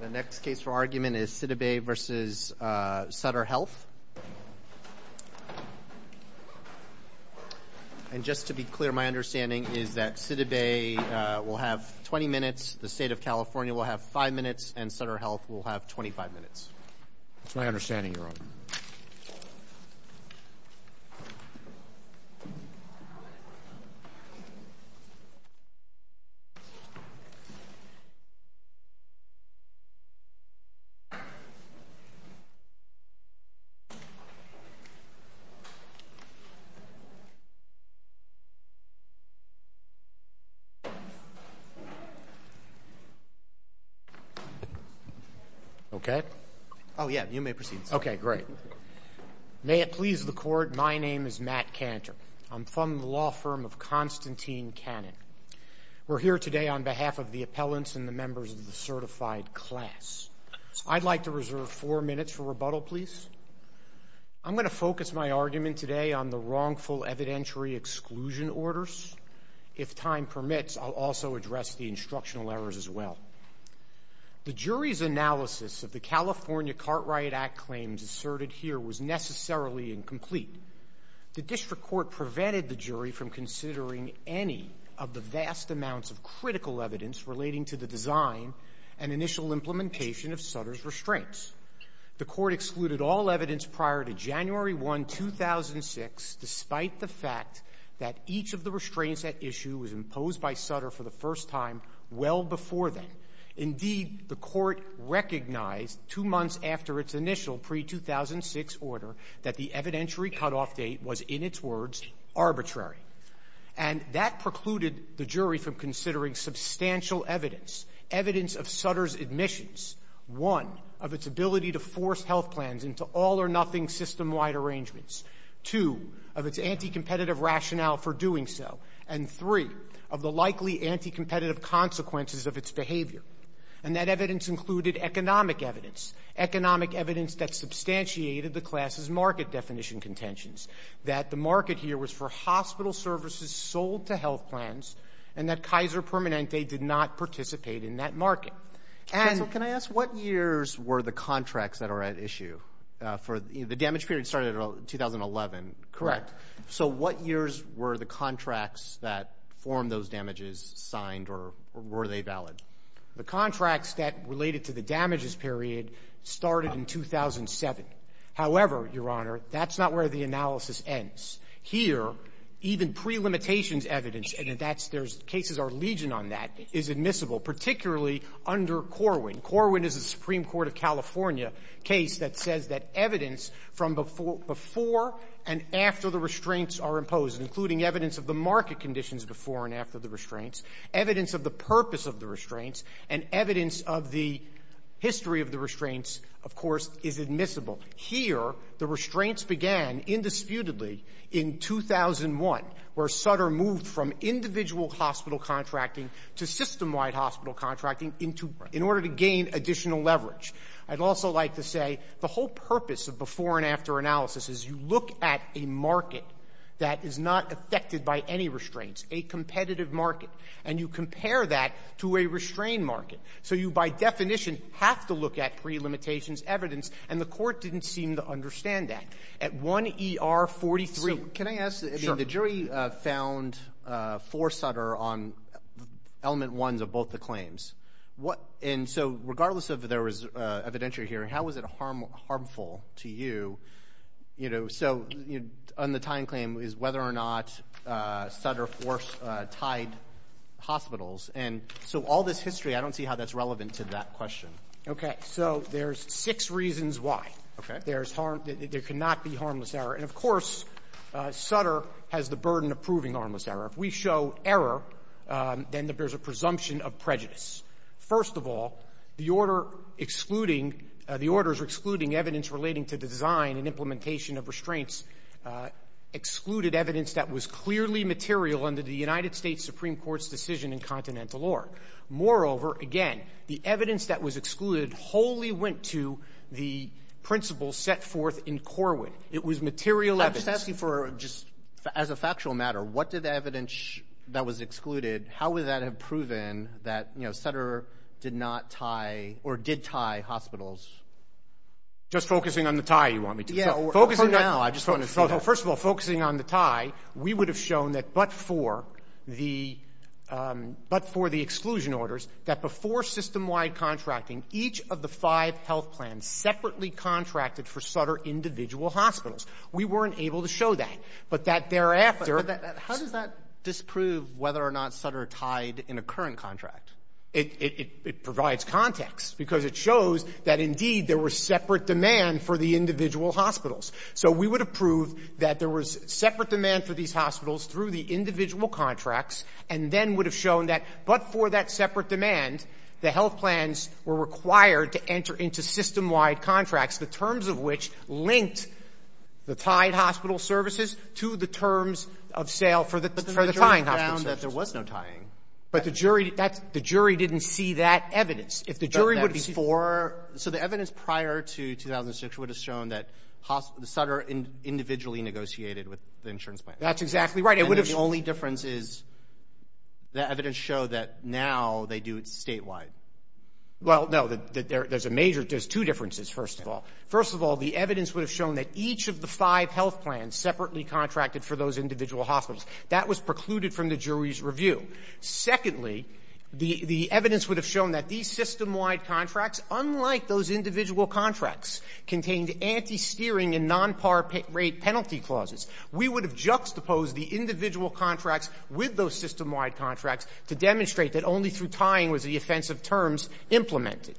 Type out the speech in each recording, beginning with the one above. The next case for argument is Sidibe v. Sutter Health. And just to be clear, my understanding is that Sidibe will have 20 minutes, the State of California will have 5 minutes, and Sutter Health will have 25 minutes. That's my understanding, Your Honor. May it please the Court, my name is Matt Cantor. I'm from the law firm of Constantine Cannon. We're here today on behalf of the appellants and the members of the certified class. I'd like to reserve 4 minutes for rebuttal, please. I'm going to focus my argument today on the wrongful evidentiary exclusion orders. If time permits, I'll also address the instructional errors as well. The jury's analysis of the California Cartwright Act claims asserted here was necessarily incomplete. The district court prevented the jury from considering any of the vast amounts of critical evidence relating to the design and initial implementation of Sutter's restraints. The Court excluded all evidence prior to January 1, 2006, despite the fact that each of the restraints at issue was imposed by Sutter for the first time well before then. Indeed, the Court recognized 2 months after its initial pre-2006 order that the evidentiary cutoff date was, in its words, arbitrary. And that precluded the jury from considering substantial evidence, evidence of Sutter's admissions, one, of its ability to force health plans into all-or-nothing system-wide arrangements, two, of its anti-competitive rationale for doing so, and three, of the likely anti-competitive consequences of its behavior. And that evidence included economic evidence, economic evidence that substantiated the class's market definition contentions, that the market here was for hospital services sold to health plans, and that Kaiser Permanente did not participate in that market. And... Counsel, can I ask, what years were the contracts that are at issue for, you know, the damage period started in 2011, correct? Correct. So what years were the contracts that formed those damages signed, or were they valid? The contracts that related to the damages period started in 2007. However, Your Honor, that's not where the analysis ends. Here, even prelimitations evidence, and that's the case of our legion on that, is admissible, particularly under Corwin. Corwin is a Supreme Court of California case that says that evidence from before and after the restraints are imposed, including evidence of the market conditions before and after the restraints, evidence of the purpose of the restraints, and evidence of the history of the restraints, of course, is admissible. Here, the restraints began, indisputably, in 2001, where Sutter moved from individual hospital contracting to system-wide hospital contracting in order to gain additional leverage. I'd also like to say the whole purpose of before and after analysis is you look at a market that is not affected by any restraints, a competitive market, and you compare that to a restraint market. So you, by definition, have to look at prelimitations evidence, and the Court didn't seem to understand that. At 1 ER 43. So, can I ask, I mean, the jury found for Sutter on element ones of both the claims. And so, regardless if there was evidentiary hearing, how was it harmful to you, you know? So, on the tying claim is whether or not Sutter forced tied hospitals. And so, all this history, I don't see how that's relevant to that question. Okay. So, there's six reasons why. Okay. There's harm — there cannot be harmless error. And, of course, Sutter has the burden of proving harmless error. If we show error, then there's a presumption of prejudice. First of all, the order excluding — the orders excluding evidence relating to design and implementation of restraints excluded evidence that was clearly material under the United States Supreme Court's decision in Continental Org. Moreover, again, the evidence that was excluded wholly went to the principles set forth in Corwin. It was material evidence. I'm just asking for, just as a factual matter, what did the evidence that was excluded, how would that have proven that, you know, Sutter did not tie or did tie hospitals? Just focusing on the tie, you want me to? Yeah. For now, I just wanted to see that. First of all, focusing on the tie, we would have shown that but for the — but for the exclusion orders, that before system-wide contracting, each of the five health plans separately contracted for Sutter individual hospitals. We weren't able to show that. But that thereafter — How does that disprove whether or not Sutter tied in a current contract? It — it provides context, because it shows that, indeed, there were separate demand for the individual hospitals. So we would have proved that there was separate demand for these hospitals through the individual contracts, and then would have shown that but for that separate demand, the health plans were required to enter into system-wide contracts, the terms of which linked the tied hospital services to the terms of sale for the — for the tying hospital services. But the jury found that there was no tying. But the jury — that's — the jury didn't see that evidence. If the jury would have seen — So the evidence prior to 2006 would have shown that the Sutter individually negotiated with the insurance plan. That's exactly right. It would have — And the only difference is that evidence showed that now they do it statewide. Well, no, there's a major — there's two differences, first of all. First of all, the evidence would have shown that each of the five health plans separately contracted for those individual hospitals. That was precluded from the jury's review. Secondly, the evidence would have shown that these system-wide contracts, unlike those individual contracts contained anti-steering and non-par rate penalty clauses, we would have juxtaposed the individual contracts with those system-wide contracts to demonstrate that only through tying was the offensive terms implemented.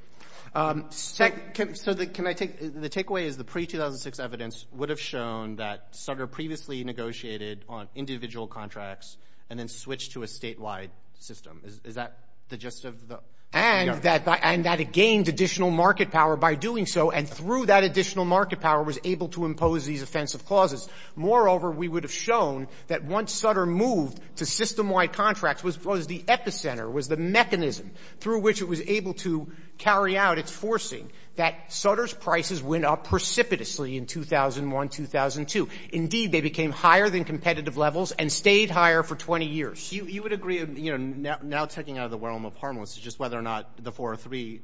So the — can I take — the takeaway is the pre-2006 evidence would have shown that Sutter previously negotiated on individual contracts and then switched to a statewide system. Is that the gist of the — And that it gained additional market power by doing so, and through that additional market power was able to impose these offensive clauses. Moreover, we would have shown that once Sutter moved to system-wide contracts, was the epicenter, was the mechanism through which it was able to carry out its forcing, that Sutter's prices went up precipitously in 2001, 2002. Indeed, they became higher than competitive levels and stayed higher for 20 years. You would agree — you know, now checking out of the realm of harmless is just whether or not the 403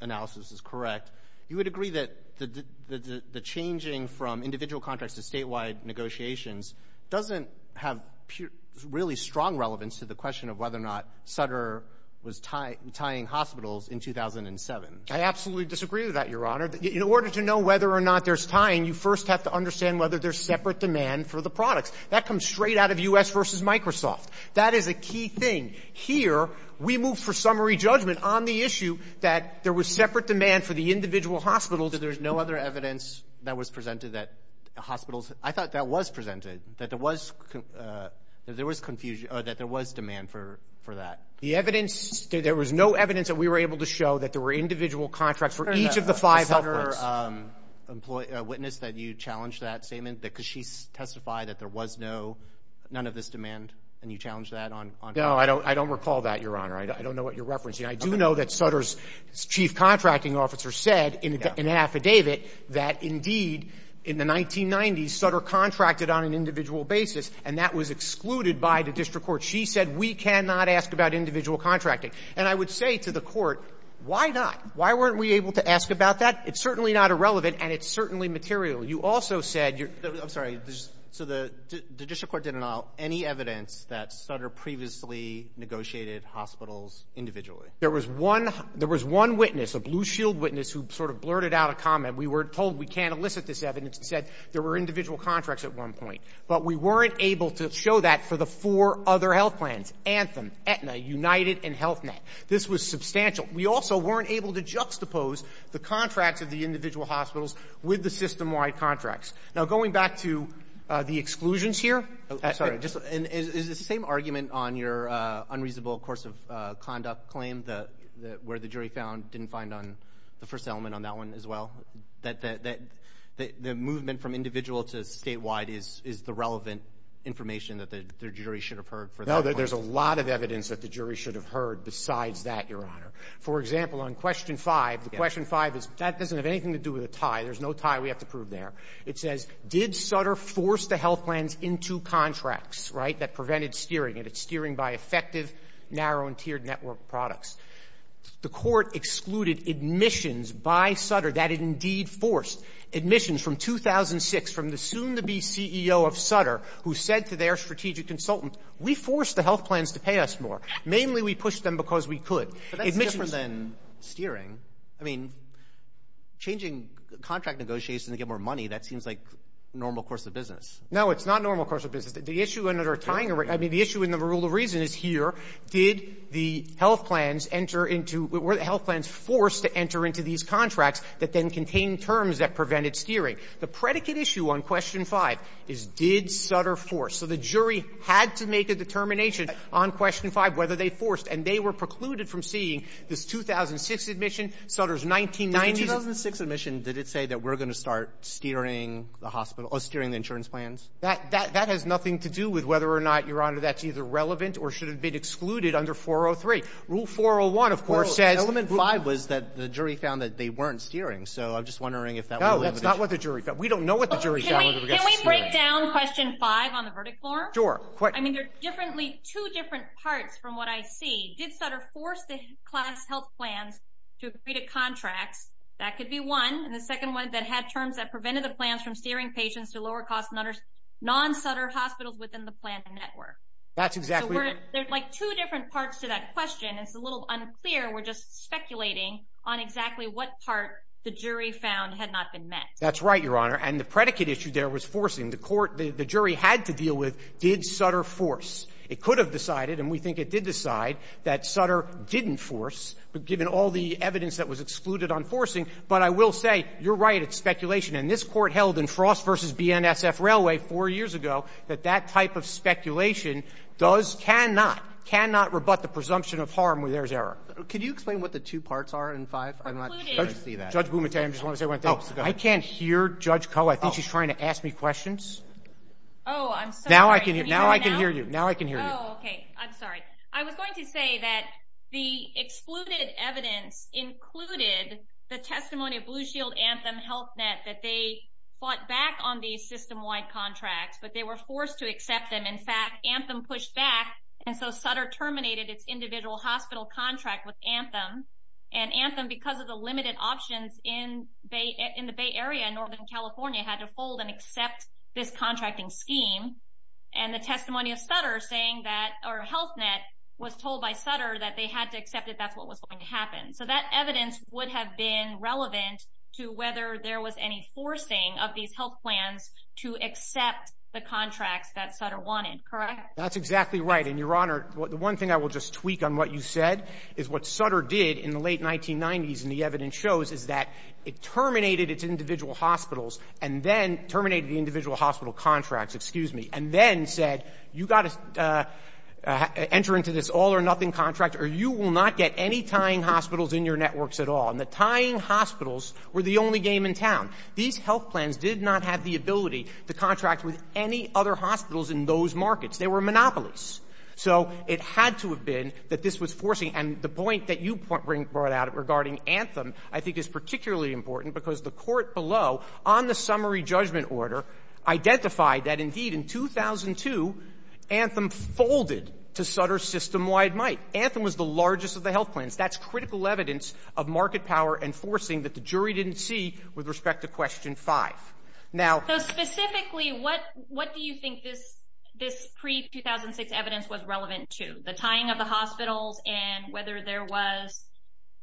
analysis is correct — you would agree that the changing from individual contracts to statewide negotiations doesn't have really strong relevance to the question of whether or not Sutter was tying hospitals in 2007? I absolutely disagree with that, Your Honor. In order to know whether or not there's tying, you first have to understand whether there's separate demand for the products. That comes straight out of U.S. versus Microsoft. That is a key thing. Here, we move for summary judgment on the issue that there was separate demand for the individual hospitals. So there's no other evidence that was presented that hospitals — I thought that was presented, that there was confusion — or that there was demand for that. The evidence — there was no evidence that we were able to show that there were individual contracts for each of the five helpers. The Sutter witness that you challenged that statement, because she testified that there was no — none of this demand, and you challenged that on — No, I don't recall that, Your Honor. I don't know what you're referencing. I do know that Sutter's chief contracting officer said in an affidavit that, indeed, in the 1990s, Sutter contracted on an individual basis, and that was excluded by the district court. She said, we cannot ask about individual contracting. And I would say to the court, why not? Why weren't we able to ask about that? It's certainly not irrelevant, and it's certainly material. You also said — I'm sorry. So the district court didn't allow any evidence that Sutter previously negotiated hospitals individually. There was one witness, a Blue Shield witness, who sort of blurted out a comment. We were told we can't elicit this evidence and said there were individual contracts at one point. But we weren't able to show that for the four other health plans — Anthem, Aetna, United, and Health Net. This was substantial. We also weren't able to juxtapose the contracts of the individual hospitals with the system-wide contracts. Now, going back to the exclusions here — Oh, sorry. Just — is the same argument on your unreasonable course of conduct claim, where the jury found — didn't find on the first element on that one as well, that the movement from individual to statewide is the relevant information that the jury should have heard for that point? No, there's a lot of evidence that the jury should have heard besides that, Your Honor. For example, on Question 5, the Question 5 is — that doesn't have anything to do with a tie. There's no tie we have to prove there. It says, did Sutter force the health plans into contracts, right, that prevented steering? And it's steering by effective, narrow- and tiered-network products. The Court excluded admissions by Sutter that it indeed forced. Admissions from 2006, from the soon-to-be CEO of Sutter, who said to their strategic consultant, we forced the health plans to pay us more. Mainly, we pushed them because we could. Admissions — But that's different than steering. I mean, changing contract negotiations to get more money, that seems like normal course of business. No, it's not normal course of business. The issue under tying — I mean, the issue in the rule of reason is here, did the health plans enter into — were the health plans forced to enter into these contracts that then contained terms that prevented steering? The predicate issue on Question 5 is, did Sutter force? So the jury had to make a determination on Question 5 whether they forced. And they were precluded from seeing this 2006 admission. Sutter's 1990s — The 2006 admission, did it say that we're going to start steering the hospital — steering the insurance plans? That — that has nothing to do with whether or not, Your Honor, that's either relevant or should have been excluded under 403. Rule 401, of course, says — Element 5 was that the jury found that they weren't steering. So I'm just wondering if that — No, that's not what the jury found. We don't know what the jury found — Can we break down Question 5 on the verdict floor? Sure. I mean, they're differently — two different parts from what I see. Did Sutter force the class health plans to agree to contracts? That could be one. And the second one, that had terms that prevented the plans from steering patients to lower-cost non-Sutter hospitals within the planned network. That's exactly right. There's, like, two different parts to that question. It's a little unclear. We're just speculating on exactly what part the jury found had not been met. That's right, Your Honor. And the predicate issue there was forcing the court — the jury had to deal with, did Sutter force? It could have decided, and we think it did decide, that Sutter didn't force, given all the evidence that was excluded on forcing. But I will say, you're right, it's speculation. And this Court held in Frost v. BNSF Railway four years ago that that type of speculation does — cannot, cannot rebut the presumption of harm where there's error. Could you explain what the two parts are in 5? I'm not sure I see that. Judge Bumatane, I just want to say one thing. I can't hear Judge Koh. I think she's trying to ask me questions. Oh, I'm sorry. Now I can hear you. Now I can hear you. Now I can hear you. Oh, OK. I'm sorry. I was going to say that the excluded evidence included the testimony of Blue Shield Anthem Health Net that they fought back on these system-wide contracts, but they were forced to accept them. In fact, Anthem pushed back, and so Sutter terminated its individual hospital contract with Anthem. And Anthem, because of the limited options in the Bay Area and Northern California, had to fold and accept this contracting scheme. And the testimony of Sutter saying that — or Health Net was told by Sutter that they had to accept it. That's what was going to happen. So that evidence would have been relevant to whether there was any forcing of these health plans to accept the contracts that Sutter wanted, correct? That's exactly right. And, Your Honor, the one thing I will just tweak on what you said is what Sutter did in the late 1990s, and the evidence shows, is that it terminated its individual hospitals and then — terminated the individual hospital contracts, excuse me, and then said, you've got to enter into this all-or-nothing contract or you will not get any tying hospitals in your networks at all. And the tying hospitals were the only game in town. These health plans did not have the ability to contract with any other hospitals in those markets. They were monopolies. So it had to have been that this was forcing — and the point that you brought out regarding Anthem I think is particularly important, because the court below, on the summary judgment order, identified that, indeed, in 2002, Anthem folded to Sutter's system-wide might. Anthem was the largest of the health plans. That's critical evidence of market power and forcing that the jury didn't see with respect to Question 5. Now — So, specifically, what do you think this pre-2006 evidence was relevant to? The tying of the hospitals and whether there was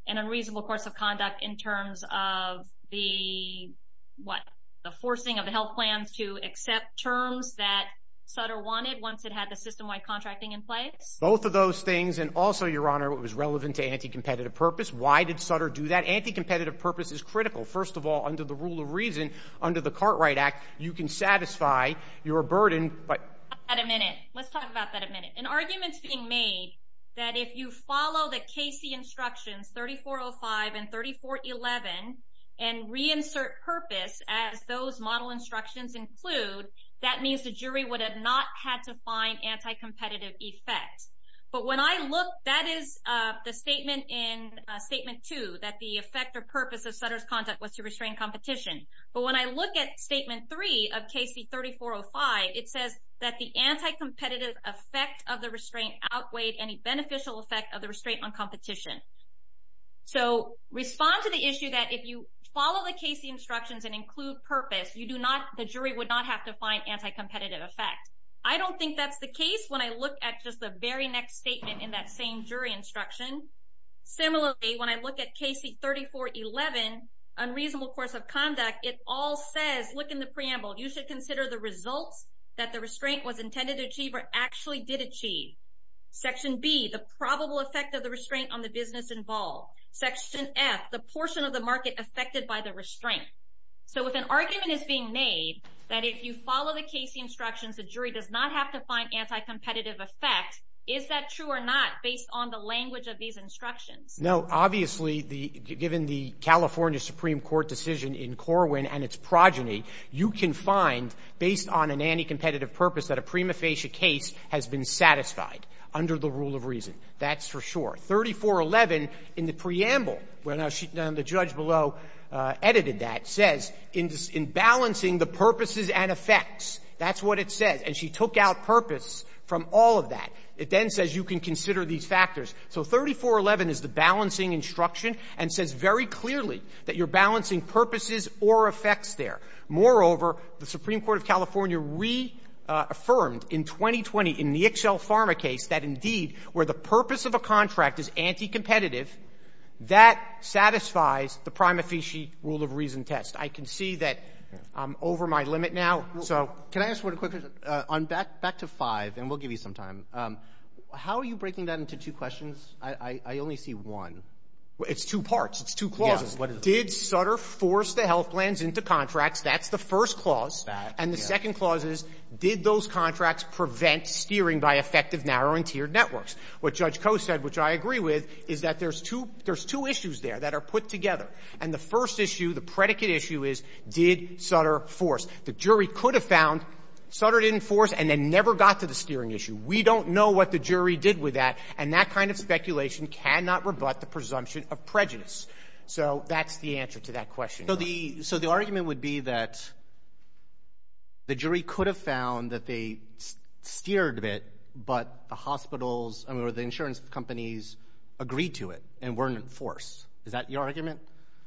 an unreasonable course of conduct in terms of the — what? The forcing of the health plans to accept terms that Sutter wanted once it had the system-wide contracting in place? Both of those things. And also, Your Honor, it was relevant to anti-competitive purpose. Why did Sutter do that? Anti-competitive purpose is critical. First of all, under the rule of reason, under the Cartwright Act, you can satisfy your burden, but — Let's talk about that a minute. Let's talk about that a minute. An argument's being made that if you follow the Casey instructions, 3405 and 3411, and reinsert purpose as those model instructions include, that means the jury would have not had to find anti-competitive effect. But when I look — that is the statement in Statement 2, that the effect or purpose of Sutter's conduct was to restrain competition. But when I look at Statement 3 of Casey 3405, it says that the anti-competitive effect of the restraint outweighed any beneficial effect of the restraint on competition. So respond to the issue that if you follow the Casey instructions and include purpose, you do not — the jury would not have to find anti-competitive effect. I don't think that's the case when I look at just the very next statement in that same jury instruction. Similarly, when I look at Casey 3411, unreasonable course of conduct, it all says — look in the preamble. You should consider the results that the restraint was intended to achieve or actually did achieve. Section B, the probable effect of the restraint on the business involved. Section F, the portion of the market affected by the restraint. So if an argument is being made that if you follow the Casey instructions, the jury does not have to find anti-competitive effect, is that true or not based on the language of these instructions? No. Obviously, the — given the California Supreme Court decision in Corwin and its progeny, you can find, based on an anti-competitive purpose, that a prima facie case has been satisfied under the rule of reason. That's for sure. 3411 in the preamble, where now she — now the judge below edited that, says, in balancing the purposes and effects, that's what it says. And she took out purpose from all of that. It then says you can consider these factors. So 3411 is the balancing instruction and says very clearly that you're balancing purposes or effects there. Moreover, the Supreme Court of California reaffirmed in 2020 in the Ixchel Pharma case that, indeed, where the purpose of a contract is anti-competitive, that satisfies the prima facie rule of reason test. I can see that I'm over my limit now. So — Can I ask one quick question? Back to 5, and we'll give you some time, how are you breaking that into two questions? I only see one. It's two parts. It's two clauses. Did Sutter force the health plans into contracts? That's the first clause. And the second clause is, did those contracts prevent steering by effective narrow and tiered networks? What Judge Coe said, which I agree with, is that there's two — there's two issues there that are put together. And the first issue, the predicate issue, is did Sutter force? The jury could have found Sutter didn't force and then never got to the steering issue. We don't know what the jury did with that, and that kind of speculation cannot rebut the presumption of prejudice. So that's the answer to that question. So the — so the argument would be that the jury could have found that they steered a bit, but the hospitals — I mean, or the insurance companies agreed to it and weren't forced. Is that your argument?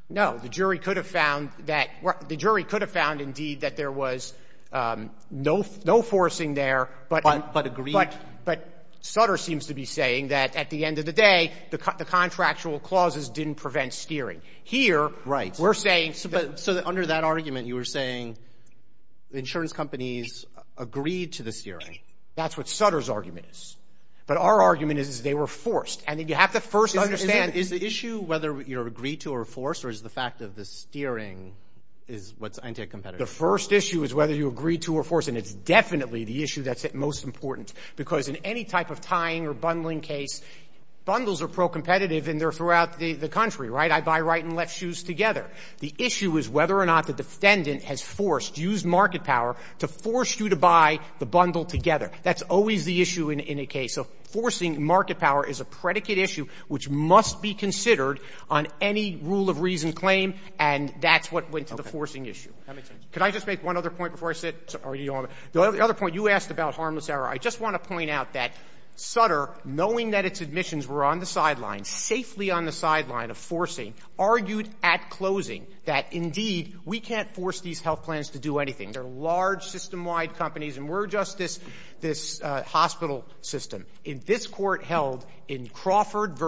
No. The jury could have found that — the jury could have found, indeed, that there was no forcing there, but — But agreed. But Sutter seems to be saying that, at the end of the day, the contractual clauses didn't prevent steering. Here, we're saying — Right. So under that argument, you were saying the insurance companies agreed to the steering. That's what Sutter's argument is. But our argument is they were forced. And you have to first understand — Is the issue whether you're agreed to or forced, or is the fact of the steering is what's anti-competitive? The first issue is whether you agreed to or forced, and it's definitely the issue that's most important. Because in any type of tying or bundling case, bundles are pro-competitive, and they're throughout the country, right? I buy right and left shoes together. The issue is whether or not the defendant has forced — used market power to force you to buy the bundle together. That's always the issue in a case. So forcing market power is a predicate issue which must be considered on any rule of reason claim, and that's what went to the forcing issue. That makes sense. Could I just make one other point before I sit? The other point you asked about harmless error. I just want to point out that Sutter, knowing that its admissions were on the sidelines, safely on the sidelines of forcing, argued at closing that, indeed, we can't force these health plans to do anything. They're large, system-wide companies, and we're just this hospital system. If this Court held in Crawford v.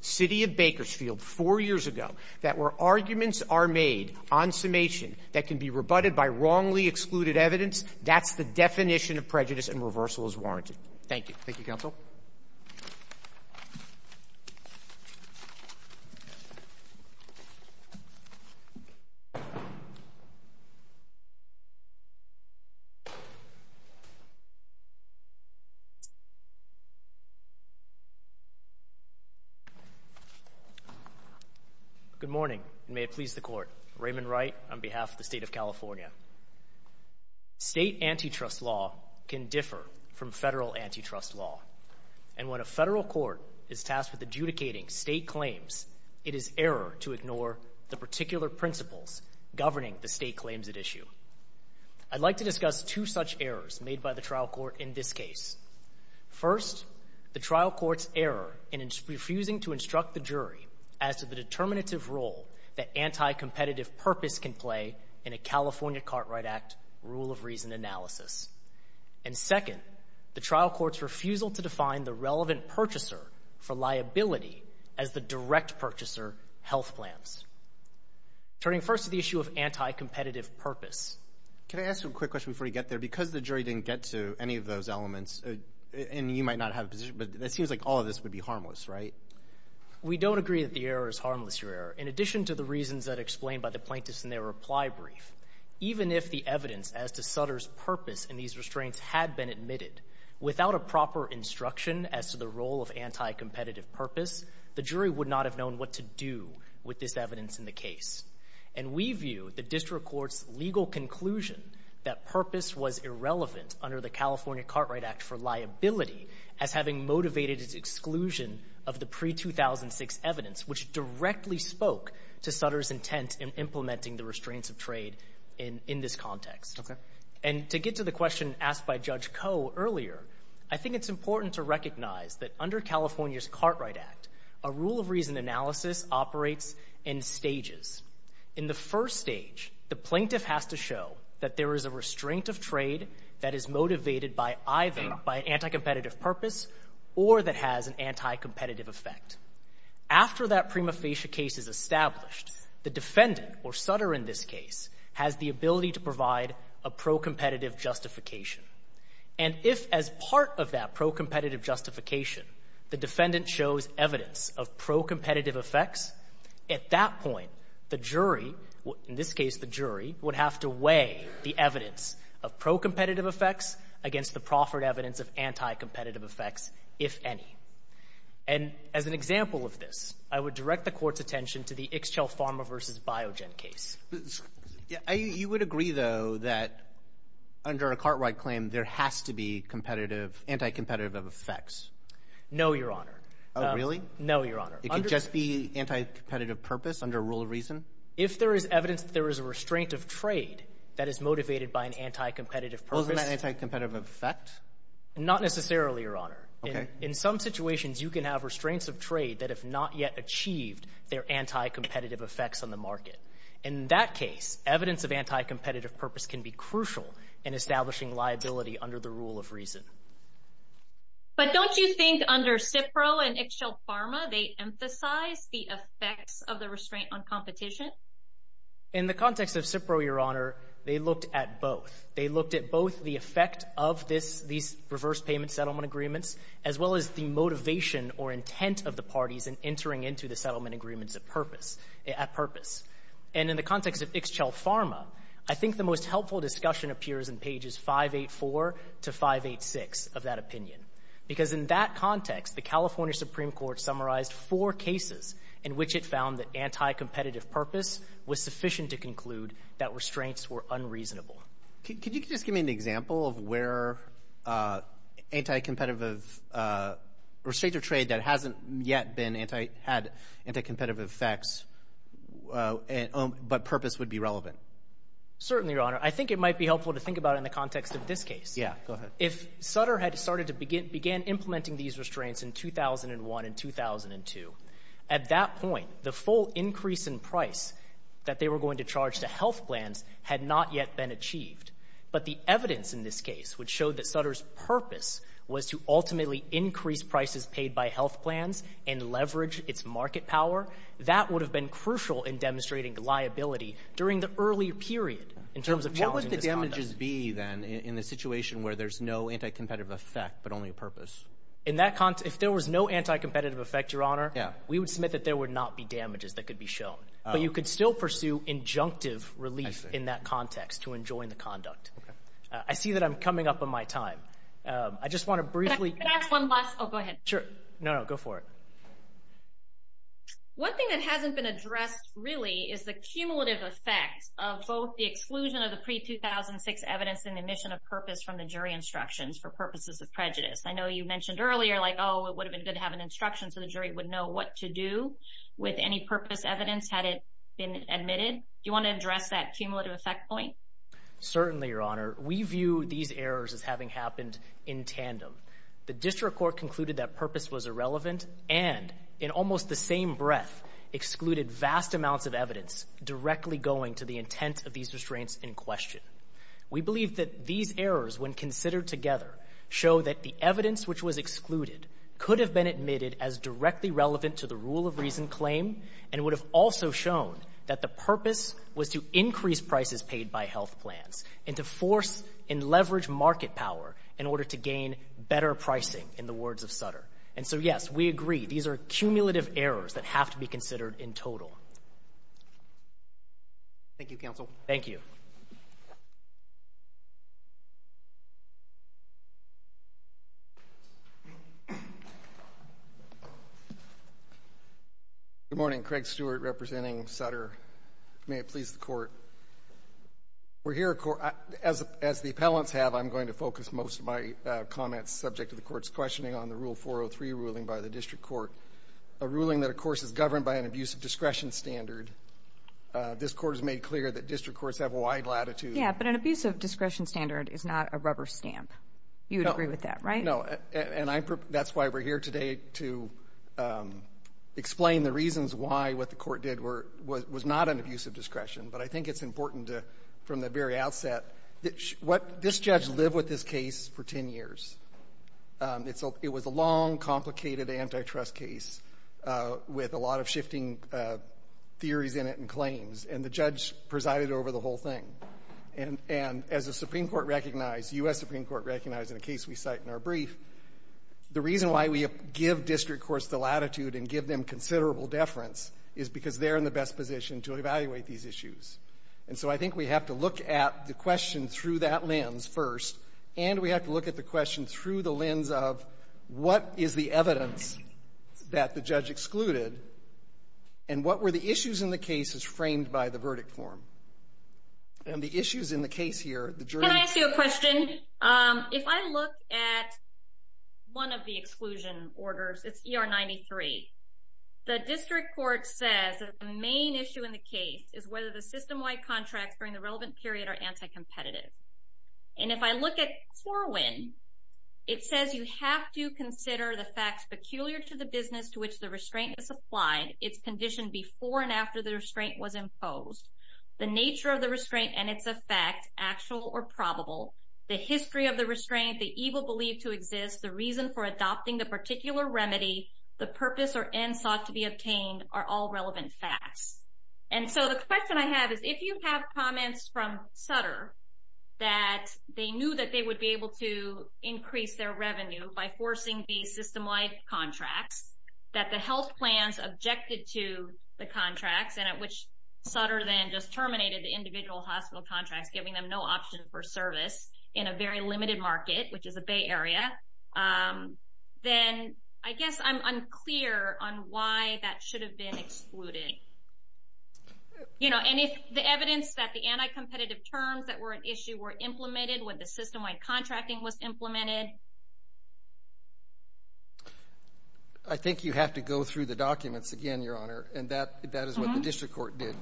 City of Bakersfield 4 years ago that where arguments are made on summation that can be rebutted by wrongly excluded evidence, that's the definition of prejudice, and reversal is warranted. Thank you. Thank you, Counsel. Good morning, and may it please the Court. Raymond Wright on behalf of the State of California. State antitrust law can differ from federal antitrust law, and when a federal court is tasked with adjudicating state claims, it is error to ignore the particular principles governing the state claims at issue. I'd like to discuss two such errors made by the trial court in this case. First, the trial court's error in refusing to instruct the jury as to the determinative role that anti-competitive purpose can play in a California Cartwright Act rule of reason analysis. And second, the trial court's refusal to define the relevant purchaser for liability as the direct purchaser, health plans. Turning first to the issue of anti-competitive purpose. Can I ask a quick question before you get there? Because the jury didn't get to any of those elements, and you might not have a position, but it seems like all of this would be harmless, right? We don't agree that the error is harmless, Your Honor. In addition to the reasons that are explained by the plaintiffs in their reply brief, even if the evidence as to Sutter's purpose in these restraints had been admitted without a proper instruction as to the role of anti-competitive purpose, the jury would not have known what to do with this evidence in the case. And we view the district court's legal conclusion that purpose was irrelevant under the California of the pre-2006 evidence, which directly spoke to Sutter's intent in implementing the restraints of trade in this context. And to get to the question asked by Judge Koh earlier, I think it's important to recognize that under California's Cartwright Act, a rule of reason analysis operates in stages. In the first stage, the plaintiff has to show that there is a restraint of trade that is an anti-competitive effect. After that prima facie case is established, the defendant, or Sutter in this case, has the ability to provide a pro-competitive justification. And if as part of that pro-competitive justification, the defendant shows evidence of pro-competitive effects, at that point, the jury, in this case the jury, would have to weigh the evidence of pro-competitive effects against the proffered evidence of anti-competitive effects, if any. And as an example of this, I would direct the Court's attention to the Ixchel Pharma v. Biogen case. Roberts. You would agree, though, that under a Cartwright claim, there has to be competitive, anti-competitive effects? No, Your Honor. Oh, really? No, Your Honor. It could just be anti-competitive purpose under a rule of reason? If there is evidence that there is a restraint of trade that is motivated by an anti-competitive purpose... Wasn't that anti-competitive effect? Not necessarily, Your Honor. In some situations, you can have restraints of trade that have not yet achieved their anti-competitive effects on the market. In that case, evidence of anti-competitive purpose can be crucial in establishing liability under the rule of reason. But don't you think under Cipro and Ixchel Pharma, they emphasize the effects of the competition? In the context of Cipro, Your Honor, they looked at both. They looked at both the effect of this — these reverse payment settlement agreements, as well as the motivation or intent of the parties in entering into the settlement agreements of purpose — at purpose. And in the context of Ixchel Pharma, I think the most helpful discussion appears in pages 584 to 586 of that opinion, because in that context, the California Supreme Court summarized four cases in which it found that anti-competitive purpose was sufficient to conclude that restraints were unreasonable. Could you just give me an example of where anti-competitive — restraints of trade that hasn't yet been anti — had anti-competitive effects, but purpose would be relevant? Certainly, Your Honor. I think it might be helpful to think about it in the context of this case. Yeah. Go ahead. If Sutter had started to begin — began implementing these restraints in 2001 and 2002, at that point, the full increase in price that they were going to charge to health plans had not yet been achieved. But the evidence in this case would show that Sutter's purpose was to ultimately increase prices paid by health plans and leverage its market power. That would have been crucial in demonstrating liability during the early period in terms of challenging this conduct. What would the damages be, then, in the situation where there's no anti-competitive effect, but only purpose? In that context — if there was no anti-competitive effect, Your Honor, we would submit that there would not be damages that could be shown. But you could still pursue injunctive relief in that context to enjoin the conduct. I see that I'm coming up on my time. I just want to briefly — Can I ask one last — oh, go ahead. Sure. No, no. Go for it. One thing that hasn't been addressed, really, is the cumulative effect of both the exclusion of the pre-2006 evidence and the omission of purpose from the jury instructions for purposes of prejudice. I know you mentioned earlier, like, oh, it would have been good to have an instruction so the jury would know what to do with any purpose evidence had it been omitted. Do you want to address that cumulative effect point? Certainly, Your Honor. We view these errors as having happened in tandem. The district court concluded that purpose was irrelevant and, in almost the same breath, vast amounts of evidence directly going to the intent of these restraints in question. We believe that these errors, when considered together, show that the evidence which was excluded could have been admitted as directly relevant to the rule of reason claim and would have also shown that the purpose was to increase prices paid by health plans and to force and leverage market power in order to gain better pricing, in the words of Sutter. And so, yes, we agree. These are cumulative errors that have to be considered in total. Thank you, counsel. Thank you. Good morning. Craig Stewart, representing Sutter. May it please the Court. We're here, as the appellants have, I'm going to focus most of my comments subject to the district court, a ruling that, of course, is governed by an abusive discretion standard. This Court has made clear that district courts have a wide latitude. Yeah, but an abusive discretion standard is not a rubber stamp. You would agree with that, right? No. And that's why we're here today, to explain the reasons why what the Court did was not an abusive discretion. But I think it's important, from the very outset, that this judge lived with this case for 10 years. It was a long, complicated antitrust case with a lot of shifting theories in it and claims. And the judge presided over the whole thing. And as the Supreme Court recognized, the U.S. Supreme Court recognized in a case we cite in our brief, the reason why we give district courts the latitude and give them considerable deference is because they're in the best position to evaluate these issues. And so I think we have to look at the question through that lens first, and we have to look at the question through the lens of, what is the evidence that the judge excluded? And what were the issues in the cases framed by the verdict form? And the issues in the case here, the jury... Can I ask you a question? If I look at one of the exclusion orders, it's ER 93. The district court says that the main issue in the case is whether the system-wide contracts during the relevant period are anti-competitive. And if I look at Corwin, it says you have to consider the facts peculiar to the business to which the restraint is applied, its condition before and after the restraint was imposed, the nature of the restraint and its effect, actual or probable, the history of the restraint, the evil believed to exist, the reason for adopting the particular remedy, the purpose or end sought to be obtained are all relevant facts. And so the question I have is, if you have comments from Sutter that they knew that they would be able to increase their revenue by forcing the system-wide contracts, that the health plans objected to the contracts, and at which Sutter then just terminated the individual hospital contracts, giving them no option for service in a very limited market, which is the Bay Area, then I guess I'm unclear on why that should have been excluded. You know, and if the evidence that the anti-competitive terms that were an issue were implemented when the system-wide contracting was implemented. I think you have to go through the documents again, Your Honor, and that is what the district court did.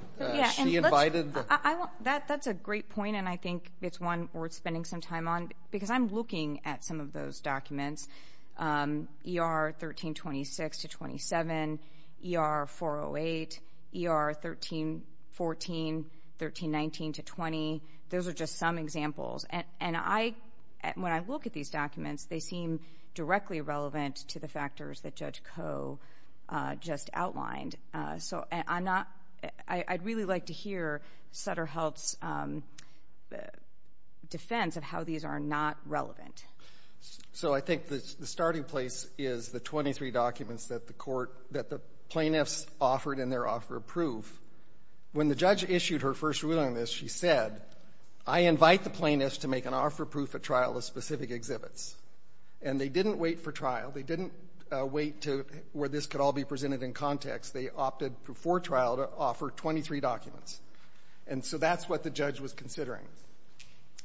She invited the... That's a great point, and I think it's one worth spending some time on, because I'm looking at some of those documents, ER 1326 to 27, ER 408, ER 1314, 1319 to 20. Those are just some examples, and I... When I look at these documents, they seem directly relevant to the factors that Judge Coe just outlined, so I'm not... I'd really like to hear Sutter Health's defense of how these are not relevant. So I think the starting place is the 23 documents that the court... that the plaintiffs offered in their offer of proof. When the judge issued her first ruling on this, she said, I invite the plaintiffs to make an offer of proof at trial of specific exhibits. And they didn't wait for trial. They didn't wait to where this could all be presented in context. They opted before trial to offer 23 documents. And so that's what the judge was considering.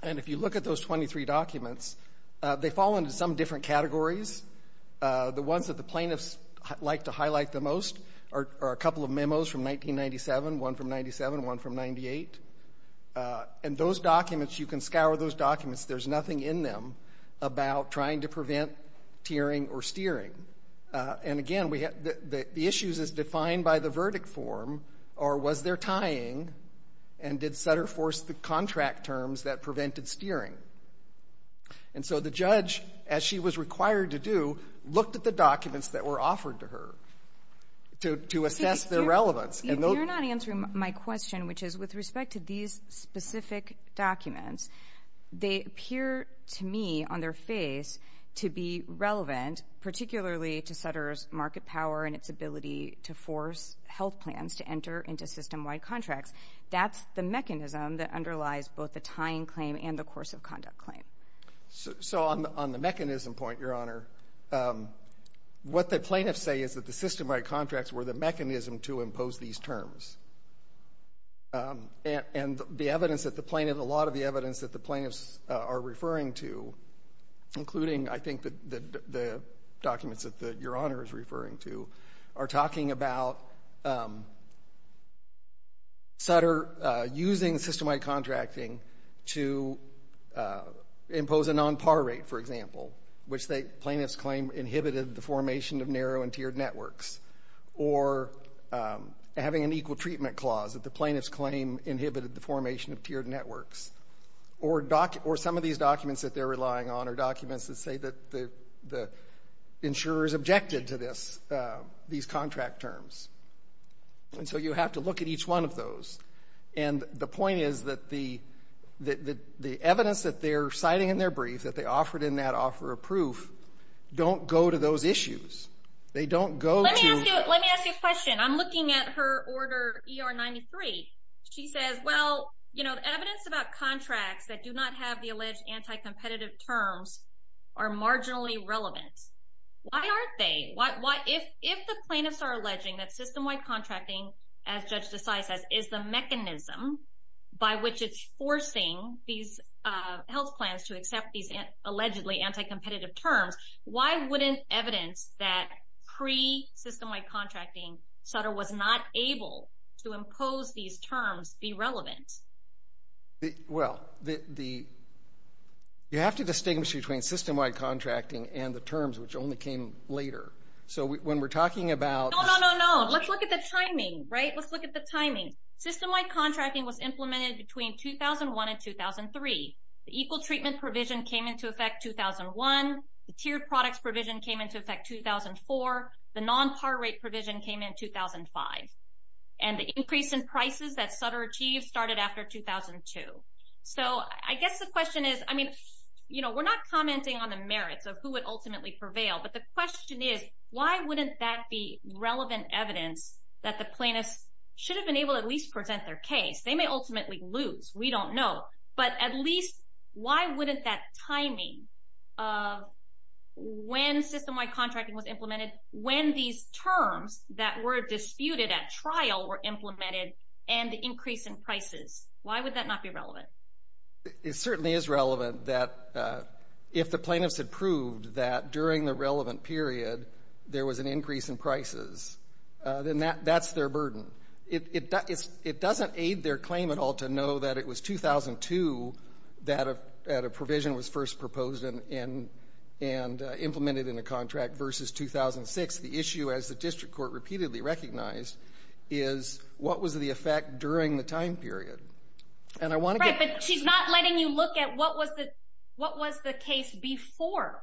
And if you look at those 23 documents, they fall into some different categories. The ones that the plaintiffs like to highlight the most are a couple of memos from 1997, one from 97, one from 98. And those documents, you can scour those documents. There's nothing in them about trying to prevent tiering or steering. And again, the issues is defined by the verdict form or was there tying and did Sutter force the contract terms that prevented steering? And so the judge, as she was required to do, looked at the documents that were offered to her to assess their relevance. You're not answering my question, which is with respect to these specific documents, they appear to me on their face to be relevant, particularly to Sutter's market power and its ability to force health plans to enter into system-wide contracts. That's the mechanism that underlies both the tying claim and the course of conduct claim. So on the mechanism point, Your Honor, what the plaintiffs say is that the system-wide contracts were the mechanism to impose these terms. And the evidence that the plaintiff, a lot of the evidence that the plaintiffs are referring to, including, I think, the documents that Your Honor is referring to, are talking about Sutter using system-wide contracting to impose a non-par rate, for example, which the plaintiffs claim inhibited the formation of narrow and tiered networks. Or having an equal treatment clause that the plaintiffs claim inhibited the formation of tiered networks. Or some of these documents that they're relying on are documents that say that the insurers objected to these contract terms. And so you have to look at each one of those. And the point is that the evidence that they're citing in their brief, that they offered in that offer of proof, don't go to those issues. They don't go to... Let me ask you a question. I'm looking at her Order ER-93. She says, well, evidence about contracts that do not have the alleged anti-competitive terms are marginally relevant. Why aren't they? If the plaintiffs are alleging that system-wide contracting, as Judge Desai says, is the mechanism by which it's forcing these health plans to accept these allegedly anti-competitive terms, why wouldn't evidence that pre-system-wide contracting Sutter was not able to impose these terms be relevant? Well, the... You have to distinguish between system-wide contracting and the terms, which only came later. So when we're talking about... No, no, no, no. Let's look at the timing, right? Let's look at the timing. System-wide contracting was implemented between 2001 and 2003. The equal treatment provision came into effect 2001. The tiered products provision came into effect 2004. The non-par rate provision came in 2005. And the increase in prices that Sutter achieved started after 2002. So I guess the question is, I mean, you know, we're not commenting on the merits of who would ultimately prevail, but the question is, why wouldn't that be relevant evidence that the plaintiffs should have been able to at least present their case? They may ultimately lose. We don't know. But at least, why wouldn't that timing of when system-wide contracting was implemented, when these terms that were disputed at trial were implemented, and the increase in prices, why would that not be relevant? It certainly is relevant that if the plaintiffs had proved that during the relevant period there was an increase in prices, then that's their burden. It doesn't aid their claim at all to know that it was 2002 that a provision was first proposed and implemented in a contract versus 2006. The issue, as the district court repeatedly recognized, is what was the effect during the time period? And I want to get... Right, but she's not letting you look at what was the case before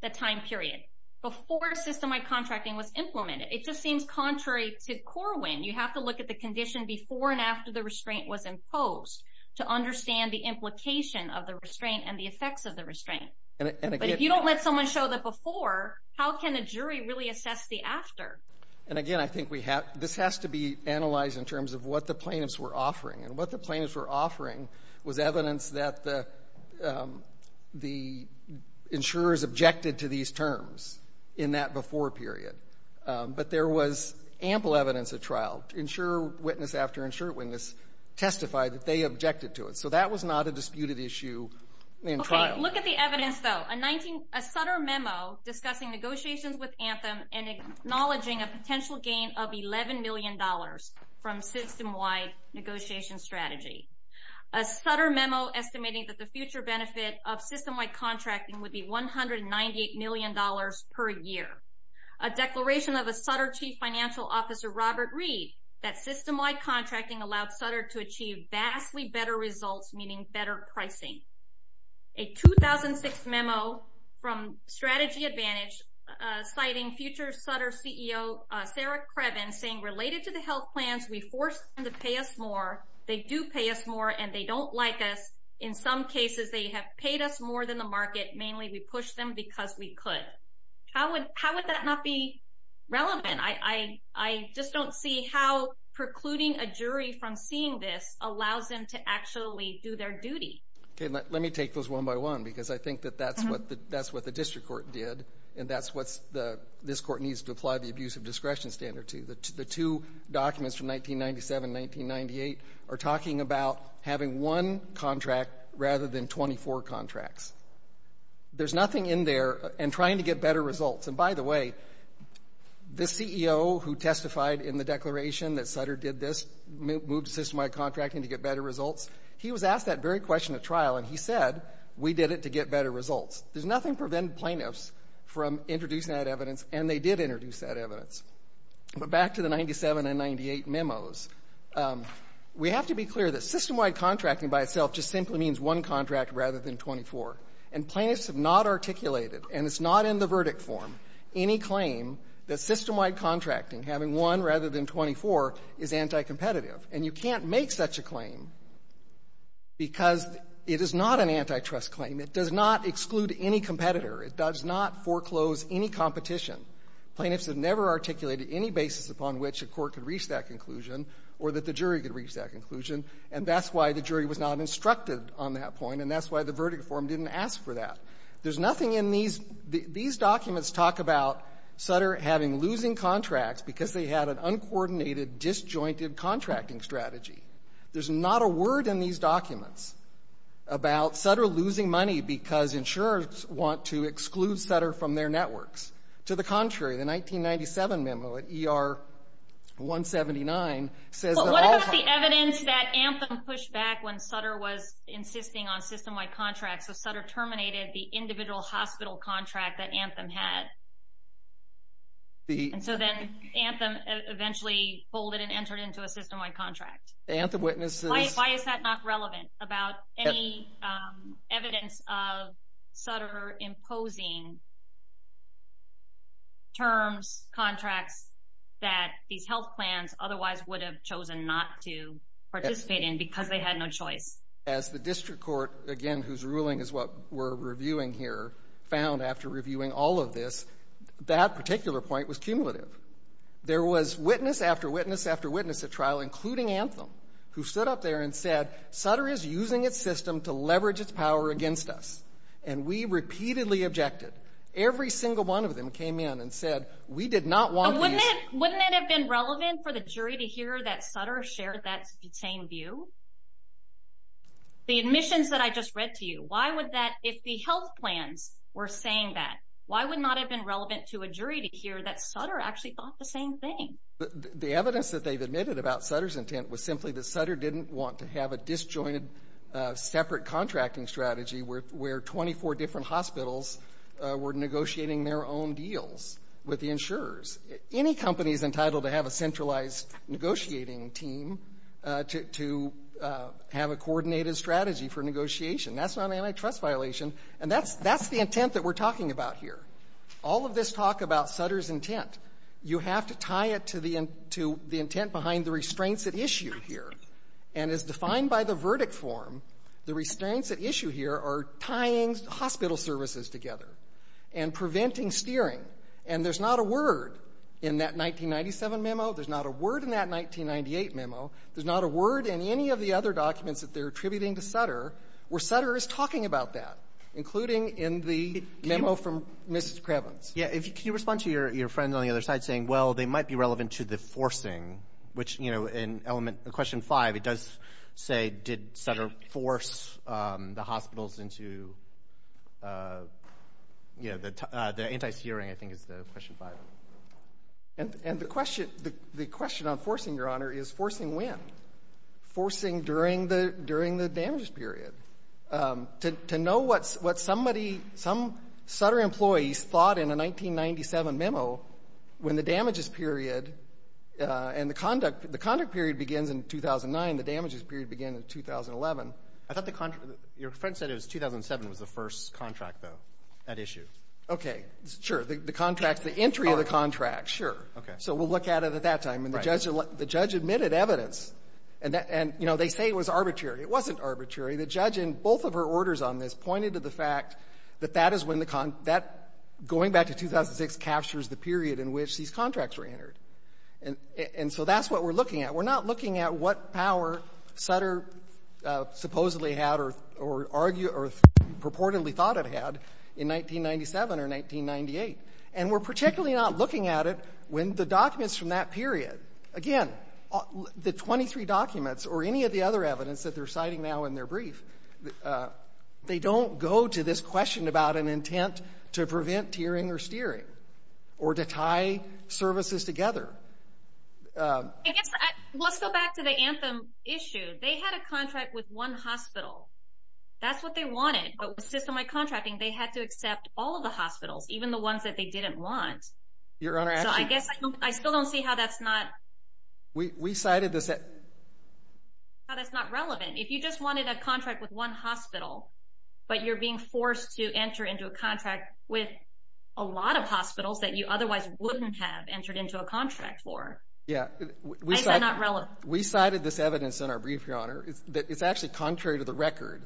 the time period, before system-wide contracting was implemented. It just seems contrary to Corwin. You have to look at the condition before and after the restraint was imposed to understand the implication of the restraint and the effects of the restraint. But if you don't let someone show the before, how can a jury really assess the after? And again, I think this has to be analyzed in terms of what the plaintiffs were offering. And what the plaintiffs were offering was evidence that the insurers objected to these terms in that before period. But there was ample evidence at trial. Insurer witness after insurer witness testified that they objected to it. So that was not a disputed issue in trial. Okay, look at the evidence, though. A Sutter memo discussing negotiations with Anthem and acknowledging a potential gain of $11 million from system-wide negotiation strategy. A Sutter memo estimating that the future benefit of system-wide contracting would be $198 million per year. A declaration of a Sutter chief financial officer, Robert Reed, that system-wide contracting allowed Sutter to achieve vastly better results, meaning better pricing. A 2006 memo from Strategy Advantage citing future Sutter CEO Sarah Crevin, saying, related to the health plans, we force them to pay us more. They do pay us more, and they don't like us. In some cases, they have paid us more than what was in the market. Mainly, we pushed them because we could. How would that not be relevant? I just don't see how precluding a jury from seeing this allows them to actually do their duty. Okay, let me take those one by one, because I think that that's what the district court did, and that's what this court needs to apply the abuse of discretion standard to. The two documents from 1997 and 1998 are talking about having one contract rather than 24 contracts. There's nothing in there in trying to get better results. And by the way, the CEO who testified in the declaration that Sutter did this, moved to system-wide contracting to get better results, he was asked that very question at trial, and he said, we did it to get better results. There's nothing to prevent plaintiffs from introducing that evidence, and they did introduce that evidence. But back to the 1997 and 1998 memos. We have to be clear that system-wide contracting by itself just simply means one contract rather than 24. And plaintiffs have not articulated, and it's not in the verdict form, any claim that system-wide contracting, having one rather than 24, is anticompetitive. And you can't make such a claim because it is not an antitrust claim. It does not exclude any competitor. It does not foreclose any competition. Plaintiffs have never articulated any basis upon which a court could reach that conclusion or that the jury could reach that conclusion, and that's why the jury was not instructed on that point, and that's why the verdict form didn't ask for that. There's nothing in these... These documents talk about Sutter having losing contracts because they had an uncoordinated, disjointed contracting strategy. There's not a word in these documents about Sutter losing money because insurers want to exclude Sutter from their networks. To the contrary, the 1997 memo at ER 179 says... Evidence that Anthem pushed back when Sutter was insisting on system-wide contracts, so Sutter terminated the individual hospital contract that Anthem had. And so then Anthem eventually folded and entered into a system-wide contract. Anthem witnesses... Why is that not relevant about any evidence of Sutter imposing terms, contracts that these health plans otherwise would have chosen not to participate in because they had no choice? As the district court, again, whose ruling is what we're reviewing here, found after reviewing all of this, that particular point was cumulative. There was witness after witness after witness at trial, including Anthem, who stood up there and said, Sutter is using its system to leverage its power against us. And we repeatedly objected. Every single one of them came in and said, we did not want these... Did you hear that Sutter shared that same view? The admissions that I just read to you, why would that... If the health plans were saying that, why would it not have been relevant to a jury to hear that Sutter actually thought the same thing? The evidence that they've admitted about Sutter's intent was simply that Sutter didn't want to have a disjointed, separate contracting strategy where 24 different hospitals were negotiating their own deals with the insurers. Any company is entitled to have a centralized negotiating team to have a coordinated strategy for negotiation. That's not an antitrust violation. And that's the intent that we're talking about here. All of this talk about Sutter's intent, you have to tie it to the intent behind the restraints at issue here. And as defined by the verdict form, the restraints at issue here are tying hospital services together and preventing steering. And there's not a word in that 1997 memo, there's not a word in that 1998 memo, there's not a word in any of the other documents that they're attributing to Sutter where Sutter is talking about that, including in the memo from Mrs. Krebens. Yeah, can you respond to your friend on the other side saying, well, they might be relevant to the forcing, which, you know, in element... Question 5, it does say, did Sutter force the hospitals into, uh... Yeah, the anti-steering, I think, is the question 5. And the question on forcing, Your Honor, is forcing when? Forcing during the damages period. To know what somebody, some Sutter employees thought in a 1997 memo when the damages period and the conduct period begins in 2009, the damages period begins in 2011. Your friend said it was 2007 was the first contract, though, at issue. Okay, sure. The contract, the entry of the contract, sure. So we'll look at it at that time. The judge admitted evidence and, you know, they say it was arbitrary. It wasn't arbitrary. The judge in both of her orders on this pointed to the fact that that is when, going back to 2006, captures the period in which these contracts were entered. And so that's what we're looking at. We're not looking at what power Sutter supposedly had or purportedly thought it had in 1997 or 1998. And we're particularly not looking at it when the documents from that period, again, the 23 documents or any of the other evidence that they're citing now in their brief, they don't go to this question about an intent to prevent tiering or steering or to tie services together. Let's go back to the Anthem issue. They had a contract with one hospital. That's what they wanted. But with system-wide contracting, they had to accept all of the hospitals, even the ones that they didn't want. So I guess I still don't see how that's not how that's not relevant. If you just wanted a contract with one hospital but you're being forced to enter into a contract with a lot of hospitals that you otherwise wouldn't have entered into a contract for, is that not relevant? We cited this evidence in our brief, Your Honor, that it's actually contrary to the record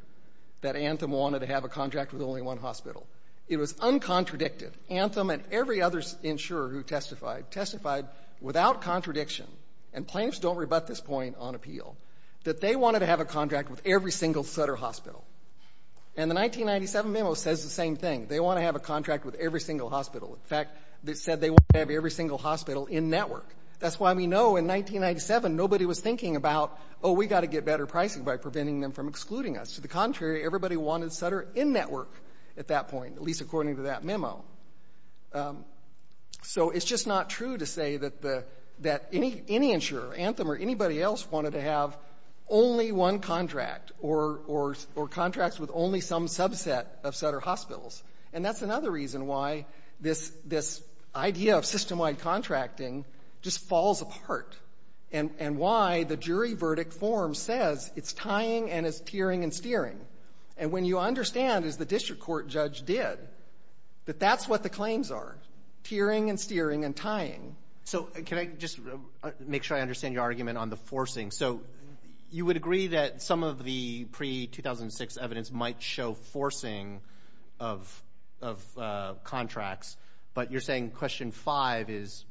that Anthem wanted to have a contract with only one hospital. It was uncontradicted. Anthem and every other insurer who testified, testified without contradiction, and plaintiffs don't rebut this point on appeal, that they wanted to have a contract with every single Sutter hospital. And the 1997 memo says the same thing. They want to have a contract with every single hospital. In fact, they said they wanted to have every single hospital in-network. That's why we know in 1997 nobody was thinking about, oh, we've got to get better pricing by preventing them from excluding us. To the contrary, everybody wanted Sutter in-network at that point, at least according to that memo. So it's just not true to say that any insurer, Anthem or anybody else, wanted to have only one contract or contracts with only some subset of Sutter hospitals. And that's another reason why this idea of system-wide contracting just falls apart. And why the jury verdict form says it's tying and it's tearing and steering. And when you understand as the district court judge did that that's what the claims are. Tearing and steering and tying. So, can I just make sure I understand your argument on the forcing. So, you would agree that some of the pre-2006 evidence might show forcing of contracts, but you're saying question five is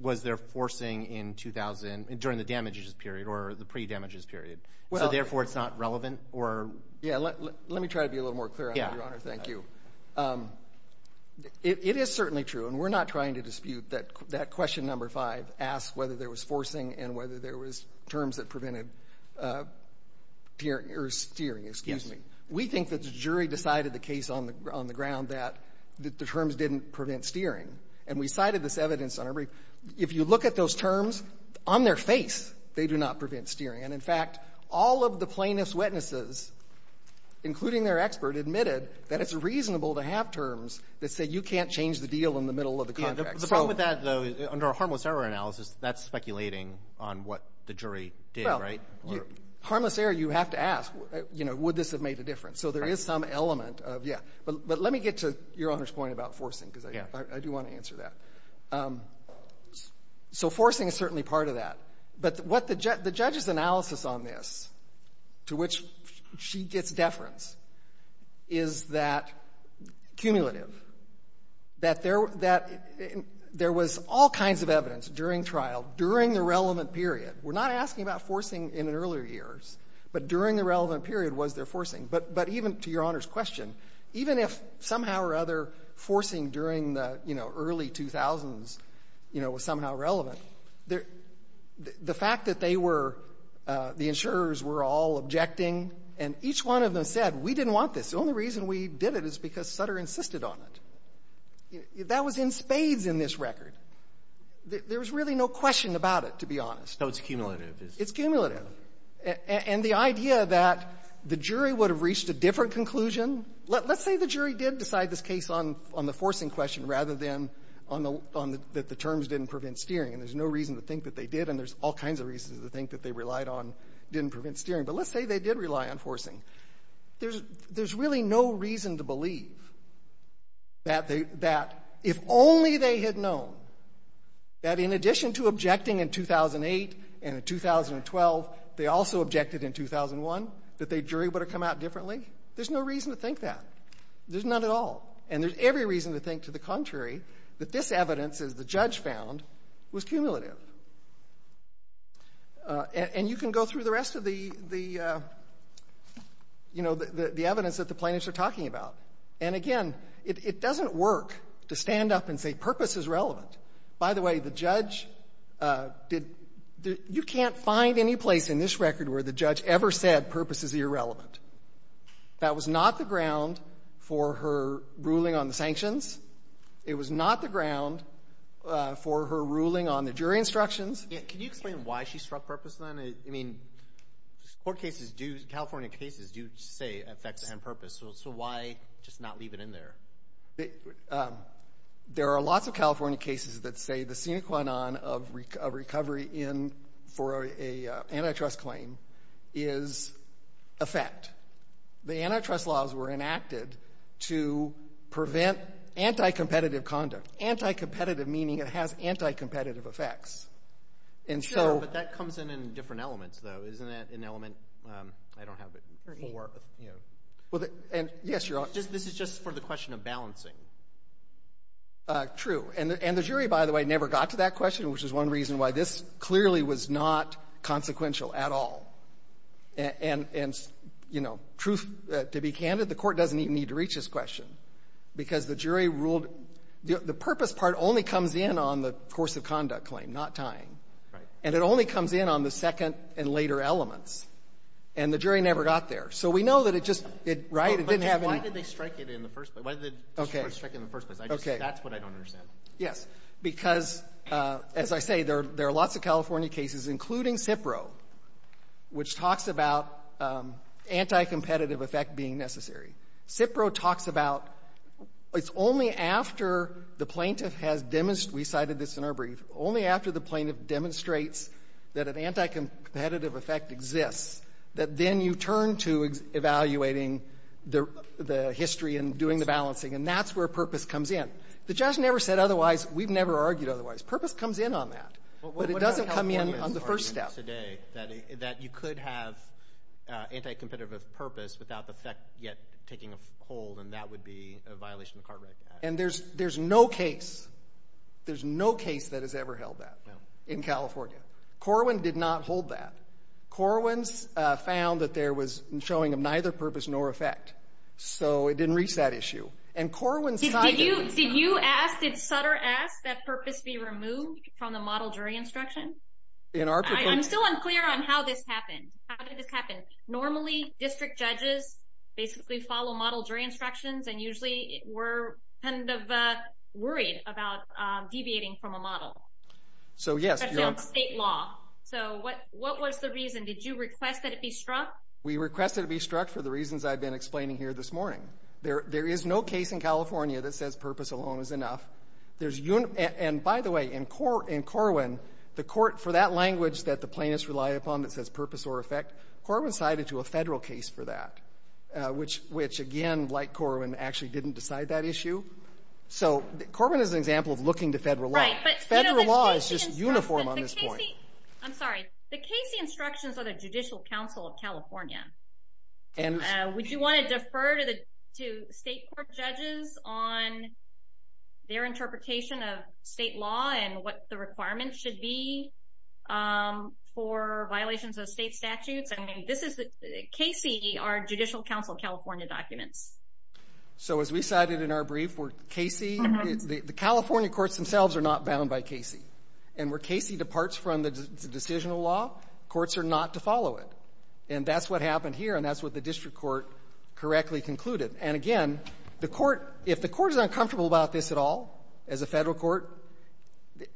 was there forcing in 2000 during the damages period or the pre-damages period. So therefore it's not relevant or? Yeah, let me try to be a little more clear on that, Your Honor. Thank you. It is certainly true, and we're not trying to dispute that question number five asked whether there was forcing and whether there was terms that prevented steering. We think that the jury decided the ground that the terms didn't prevent steering. And we cited this evidence on every, if you look at those terms on their face, they do not prevent steering. And in fact, all of the plaintiff's witnesses including their expert admitted that it's reasonable to have terms that say you can't change the deal in the middle of the contract. The problem with that though, under a harmless error analysis, that's speculating on what the jury did, right? Harmless error, you have to ask would this have made a difference? So there is some element of, yeah. But let me get to Your Honor's point about forcing because I do want to answer that. So forcing is certainly part of that. But what the judge's analysis on this to which she gets deference is that cumulative that there was all kinds of evidence during trial, during the relevant period we're not asking about forcing in earlier years, but during the relevant period was there forcing. But even to Your Honor's question, even if somehow or other forcing during the early 2000s was somehow relevant, the fact that they were the insurers were all objecting, and each one of them said we didn't want this. The only reason we did it is because Sutter insisted on it. That was in spades in this record. There was really no question about it, to be honest. No, it's cumulative. It's cumulative. And the idea that the jury would have reached a different conclusion, let's say the jury did decide this case on the forcing question rather than that the terms didn't prevent steering, and there's no reason to think that they did, and there's all kinds of reasons to think that they relied on didn't prevent steering. But let's say they did rely on forcing. There's really no reason to believe that if only they had known that in addition to objecting in 2008 and in 2012 they also objected in 2001 that the jury would have come out differently. There's no reason to think that. There's none at all. And there's every reason to think to the contrary that this evidence, as the judge found, was cumulative. And you can go through the rest of the evidence that the plaintiffs are talking about. And again, it doesn't work to stand up and say purpose is relevant. By the way, the judge did, you can't find any place in this record where the judge ever said purpose is irrelevant. That was not the ground for her ruling on the sanctions. It was not the ground for her ruling on the jury instructions. Can you explain why she struck purpose then? I mean, court cases do, California cases do say effects and purpose. So why just not leave it in there? There are lots of California cases that say the sine qua non of recovery for an antitrust claim is effect. The antitrust laws were enacted to prevent anti-competitive conduct. Anti-competitive meaning it has anti-competitive effects. Sure, but that comes in in different elements though. Isn't that an element? I don't have it. This is just for the question of balancing. True. And the jury, by the way, never got to that question, which is one reason why this clearly was not consequential at all. And truth to be candid, the court doesn't even need to reach this question because the jury ruled the purpose part only comes in on the course of conduct claim, not tying. And it only comes in on the second and later elements. And the jury never got there. So we know that it just, right? Why did they strike it in the first place? That's what I don't understand. Yes, because as I say, there are lots of California cases, including CIPRO, which talks about anti-competitive effect being necessary. CIPRO talks about, it's only after the plaintiff has demonstrated, we cited this in our brief, only after the plaintiff demonstrates that an anti-competitive effect exists, that then you turn to reevaluating the history and doing the balancing. And that's where purpose comes in. The judge never said otherwise. We've never argued otherwise. Purpose comes in on that. But it doesn't come in on the first step. That you could have anti-competitive purpose without the effect yet taking a hold and that would be a violation of Cartwright Act. And there's no case. There's no case that has ever held that in California. Corwin did not hold that. Corwin's found that there was showing of neither purpose nor effect. So it didn't reach that issue. Did you ask, did Sutter ask that purpose be removed from the model jury instruction? I'm still unclear on how this happened. How did this happen? Normally district judges basically follow model jury instructions and usually were kind of worried about deviating from a model. Especially on state law. So what was the reason? Did you request that it be struck? We requested it be struck for the reasons I've been explaining here this morning. There is no case in California that says purpose alone is enough. And by the way, in Corwin, the court for that language that the plaintiffs rely upon that says purpose or effect, Corwin sided to a federal case for that. Which again, like Corwin, actually didn't decide that issue. So Corwin is an example of looking to federal law. Federal law is just The Casey instructions are the Judicial Council of California. Would you want to defer to state court judges on their interpretation of state law and what the requirements should be for violations of state statutes? Casey are Judicial Council So as we cited in our brief, the California courts themselves are not bound by Casey. And where Casey departs from the decisional law, courts are not to follow it. And that's what happened here and that's what the district court correctly concluded. And again, the court, if the court is uncomfortable about this at all, as a federal court,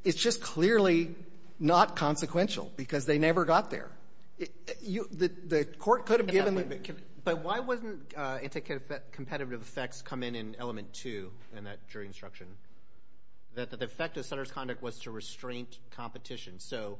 it's just clearly not consequential because they never got there. The court could have given But why wasn't anticompetitive effects come in in element two in that jury instruction? That the effect of Senator's conduct was to restrain competition. So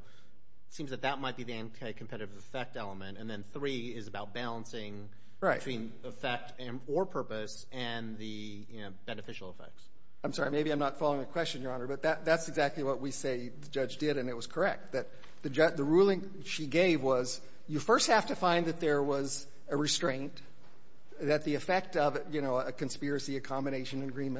it seems that that might be the anticompetitive effect element. And then three is about balancing between effect or purpose and the beneficial effects. I'm sorry, maybe I'm not following the question, Your Honor, but that's exactly what we say the judge did and it was correct. The ruling she gave was you first have to find that there was a restraint, that the effect of a conspiracy, a And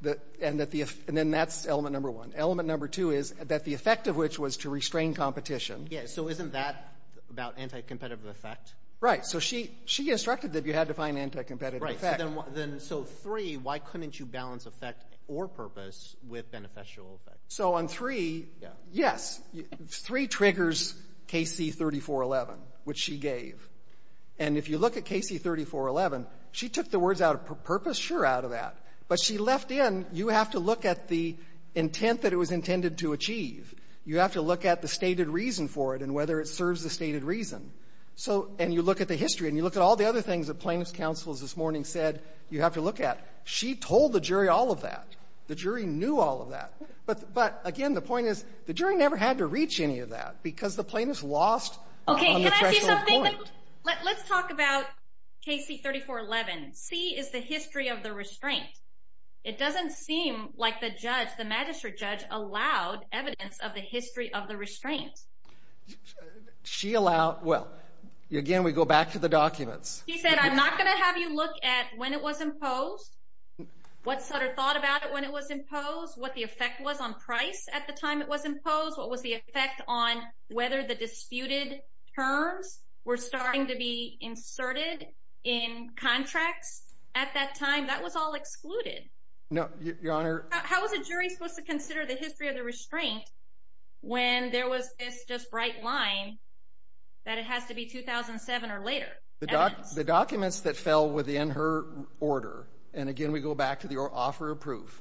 then that's element number one. Element number two is that the effect of which was to restrain competition. So isn't that about anticompetitive effect? Right. So she instructed that you had to find anticompetitive effect. So three, why couldn't you balance effect or purpose with beneficial effect? So on three, yes, three triggers KC 3411 which she gave. And if you look at KC 3411, she took the words out of purpose, sure, but she left in you have to look at the intent that it was intended to achieve. You have to look at the stated reason for it and whether it serves the stated reason. And you look at the history and you look at all the other things the plaintiff's counsel this morning said you have to look at. She told the jury all of that. The jury knew all of that. But again, the point is the jury never had to reach any of that because the plaintiff's lost on the threshold point. Let's talk about KC 3411. C is the history of the restraint. It doesn't seem like the judge, the magistrate judge, allowed evidence of the history of the restraint. She allowed, well, again we go back to the documents. She said, I'm not going to have you look at when it was imposed, what Sutter thought about it when it was imposed, what the effect was on price at the time it was imposed, what was the effect on whether the disputed terms were starting to be inserted in contracts at that time? That was all excluded. No, Your Honor. How was a jury supposed to consider the history of the restraint when there was this just bright line that it has to be 2007 or later? The documents that fell within her order, and again we go back to the offer of proof,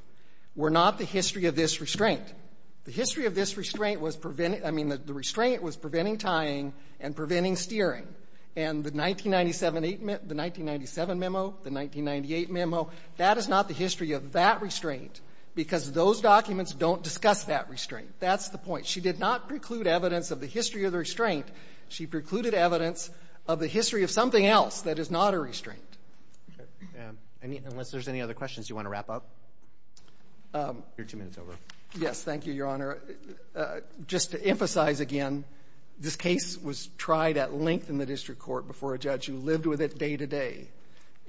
were not the history of this restraint. The history of this restraint was preventing, I mean, the restraint was preventing tying and preventing steering. And the 1997 memo, the 1998 memo, that is not the history of that restraint because those documents don't discuss that restraint. That's the point. She did not preclude evidence of the history of the restraint. She precluded evidence of the history of something else that is not a restraint. Unless there's any other questions, do you want to wrap up? Your two minutes over. Yes, thank you, Your Honor. Just to emphasize again, this case was tried at length in the district court before a judge who lived with it day to day.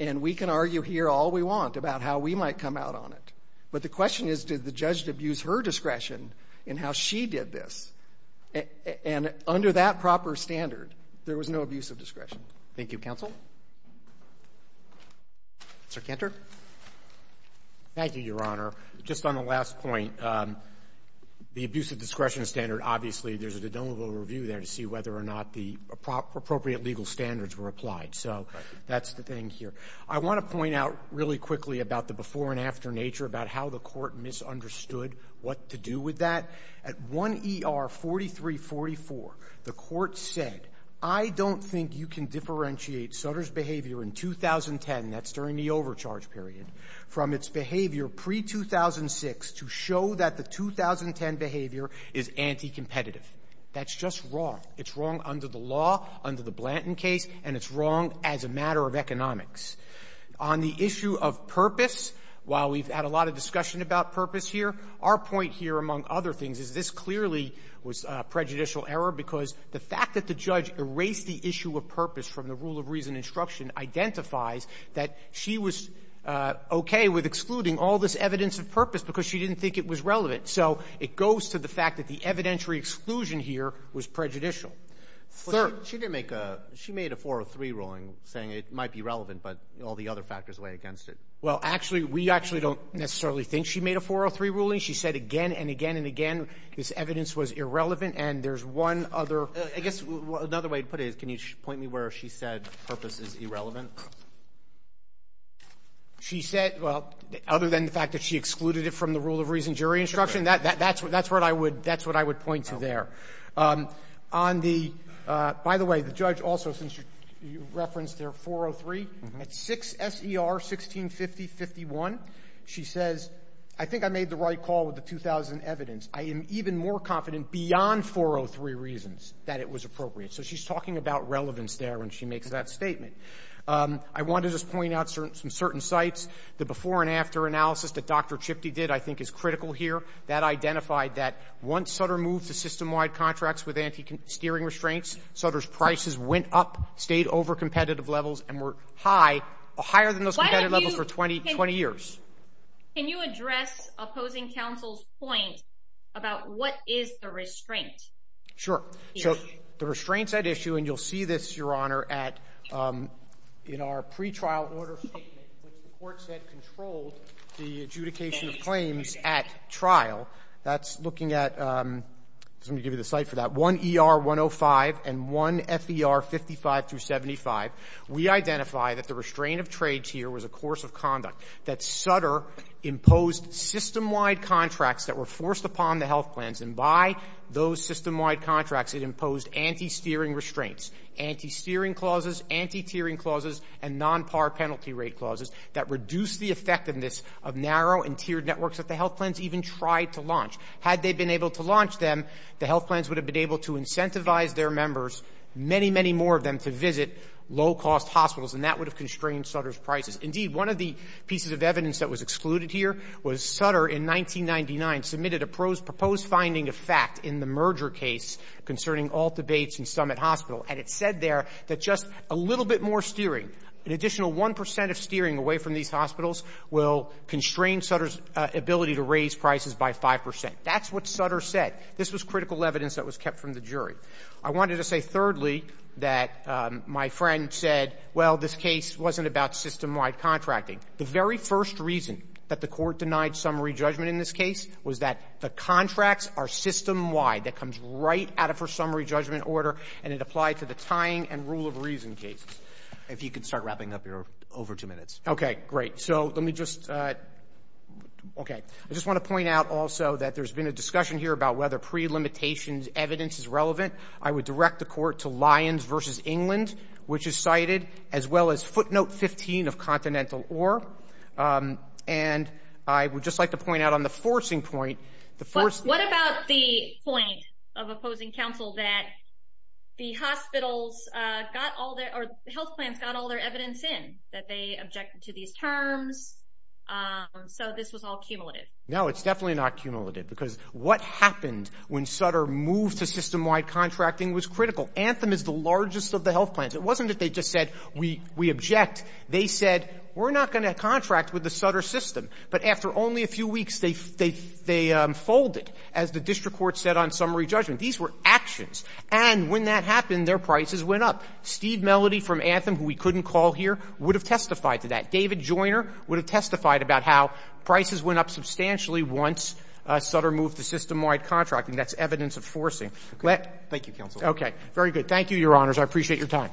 And we can argue here all we want about how we might come out on it. But the question is, did the judge abuse her discretion in how she did this? And under that proper standard, there was no abuse of discretion. Thank you, Counsel. Mr. Cantor? Thank you, Your Honor. Just on the last point, the abuse of discretion, I think there was a little review there to see whether or not the appropriate legal standards were applied. So that's the thing here. I want to point out really quickly about the before and after nature about how the court misunderstood what to do with that. At 1 ER 4344, the court said, I don't think you can differentiate Sutter's behavior in 2010 that's during the overcharge period from its behavior pre-2006 to show that the 2010 behavior is anti-competitive. That's just wrong. It's wrong under the law, under the Blanton case, and it's wrong as a matter of economics. On the issue of purpose, while we've had a lot of discussion about purpose here, our point here, among other things, is this clearly was prejudicial error because the fact that the judge erased the issue of purpose from the rule of reason and instruction identifies that she was okay with excluding all this evidence of purpose because she didn't think it was relevant. So it goes to the fact that the evidentiary exclusion here was prejudicial. Third — But she didn't make a — she made a 403 ruling saying it might be relevant, but all the other factors weigh against it. Well, actually, we actually don't necessarily think she made a 403 ruling. She said again and again and again this evidence was irrelevant, and there's one other — I guess another way to put it is, can you point me where she said purpose is irrelevant? She said — well, other than the fact that she excluded it from the rule of reason jury instruction, that's what I would point to there. On the — by the way, the judge also, since you referenced their 403, at 6 S.E.R. 1650-51, she says, I think I made the right call with the 2000 evidence. I am even more confident beyond 403 reasons that it was appropriate. So she's talking about relevance there when she makes that statement. I want to just point out some certain sites. The before and after analysis that Dr. Chifty did, I think, is critical here. That identified that once Sutter moved to system-wide contracts with anti-steering restraints, Sutter's prices went up, stayed over competitive levels, and were higher than those competitive levels for 20 years. Can you address opposing counsel's point about what is the restraint? Sure. So the restraints at issue, and you'll see this, Your Honor, at in our pretrial order statement which the court said controlled the adjudication of claims at trial, that's looking at — I'm going to give you the site for that — 1ER-105 and 1FER-55-75. We identify that the restraint of trades here was a course of conduct that Sutter imposed system-wide contracts that were forced upon the health plans, and by those system-wide contracts it imposed anti-steering restraints. Anti-steering clauses, anti-tiering clauses, and non-par penalty rate clauses that reduced the effectiveness of narrow and tiered networks that the health plans even tried to launch. Had they been able to launch them, the health plans would have been able to incentivize their members many, many more of them to visit low-cost hospitals, and that would have constrained Sutter's prices. Indeed, one of the pieces of evidence that was excluded here was Sutter in 1999 submitted a proposed finding of fact in the merger case concerning all debates in Summit Hospital, and it said there that just a little bit more steering, an additional 1 percent of steering away from these hospitals will constrain Sutter's ability to raise prices by 5 percent. That's what Sutter said. This was critical evidence that was kept from the jury. I wanted to say thirdly that my friend said, well, this case wasn't about system-wide contracting. The very first reason that the court denied summary judgment in this case was that the contracts are system-wide. That comes right out of her summary judgment order, and it applied to the tying and rule of reason cases. If you could start wrapping up your over two minutes. Okay, great. So let me just Okay. I just want to point out also that there's been a discussion here about whether pre-limitations evidence is relevant. I would direct the court to Lyons v. England, which is cited, as well as footnote 15 of Continental Org. And I would just like to point out on the forcing point What about the point of opposing counsel that the hospitals got all their, or health plans got all their evidence in, that they objected to these terms, so this was all cumulative? No, it's definitely not cumulative, because what happened when Sutter moved to system-wide contracting was critical. Anthem is the largest of the health plans. It wasn't that they just said, we object. They said, we're not going to contract with the Sutter system. But after only a few weeks, they folded, as the district court said on summary judgment. These were actions. And when that happened, their prices went up. Steve Melody from Anthem, who we couldn't call here, would have testified to that. David Joyner would have testified about how prices went up substantially once Sutter moved to system-wide contracting. That's evidence of forcing. Thank you, counsel. Very good. Thank you, your honors. I appreciate your time.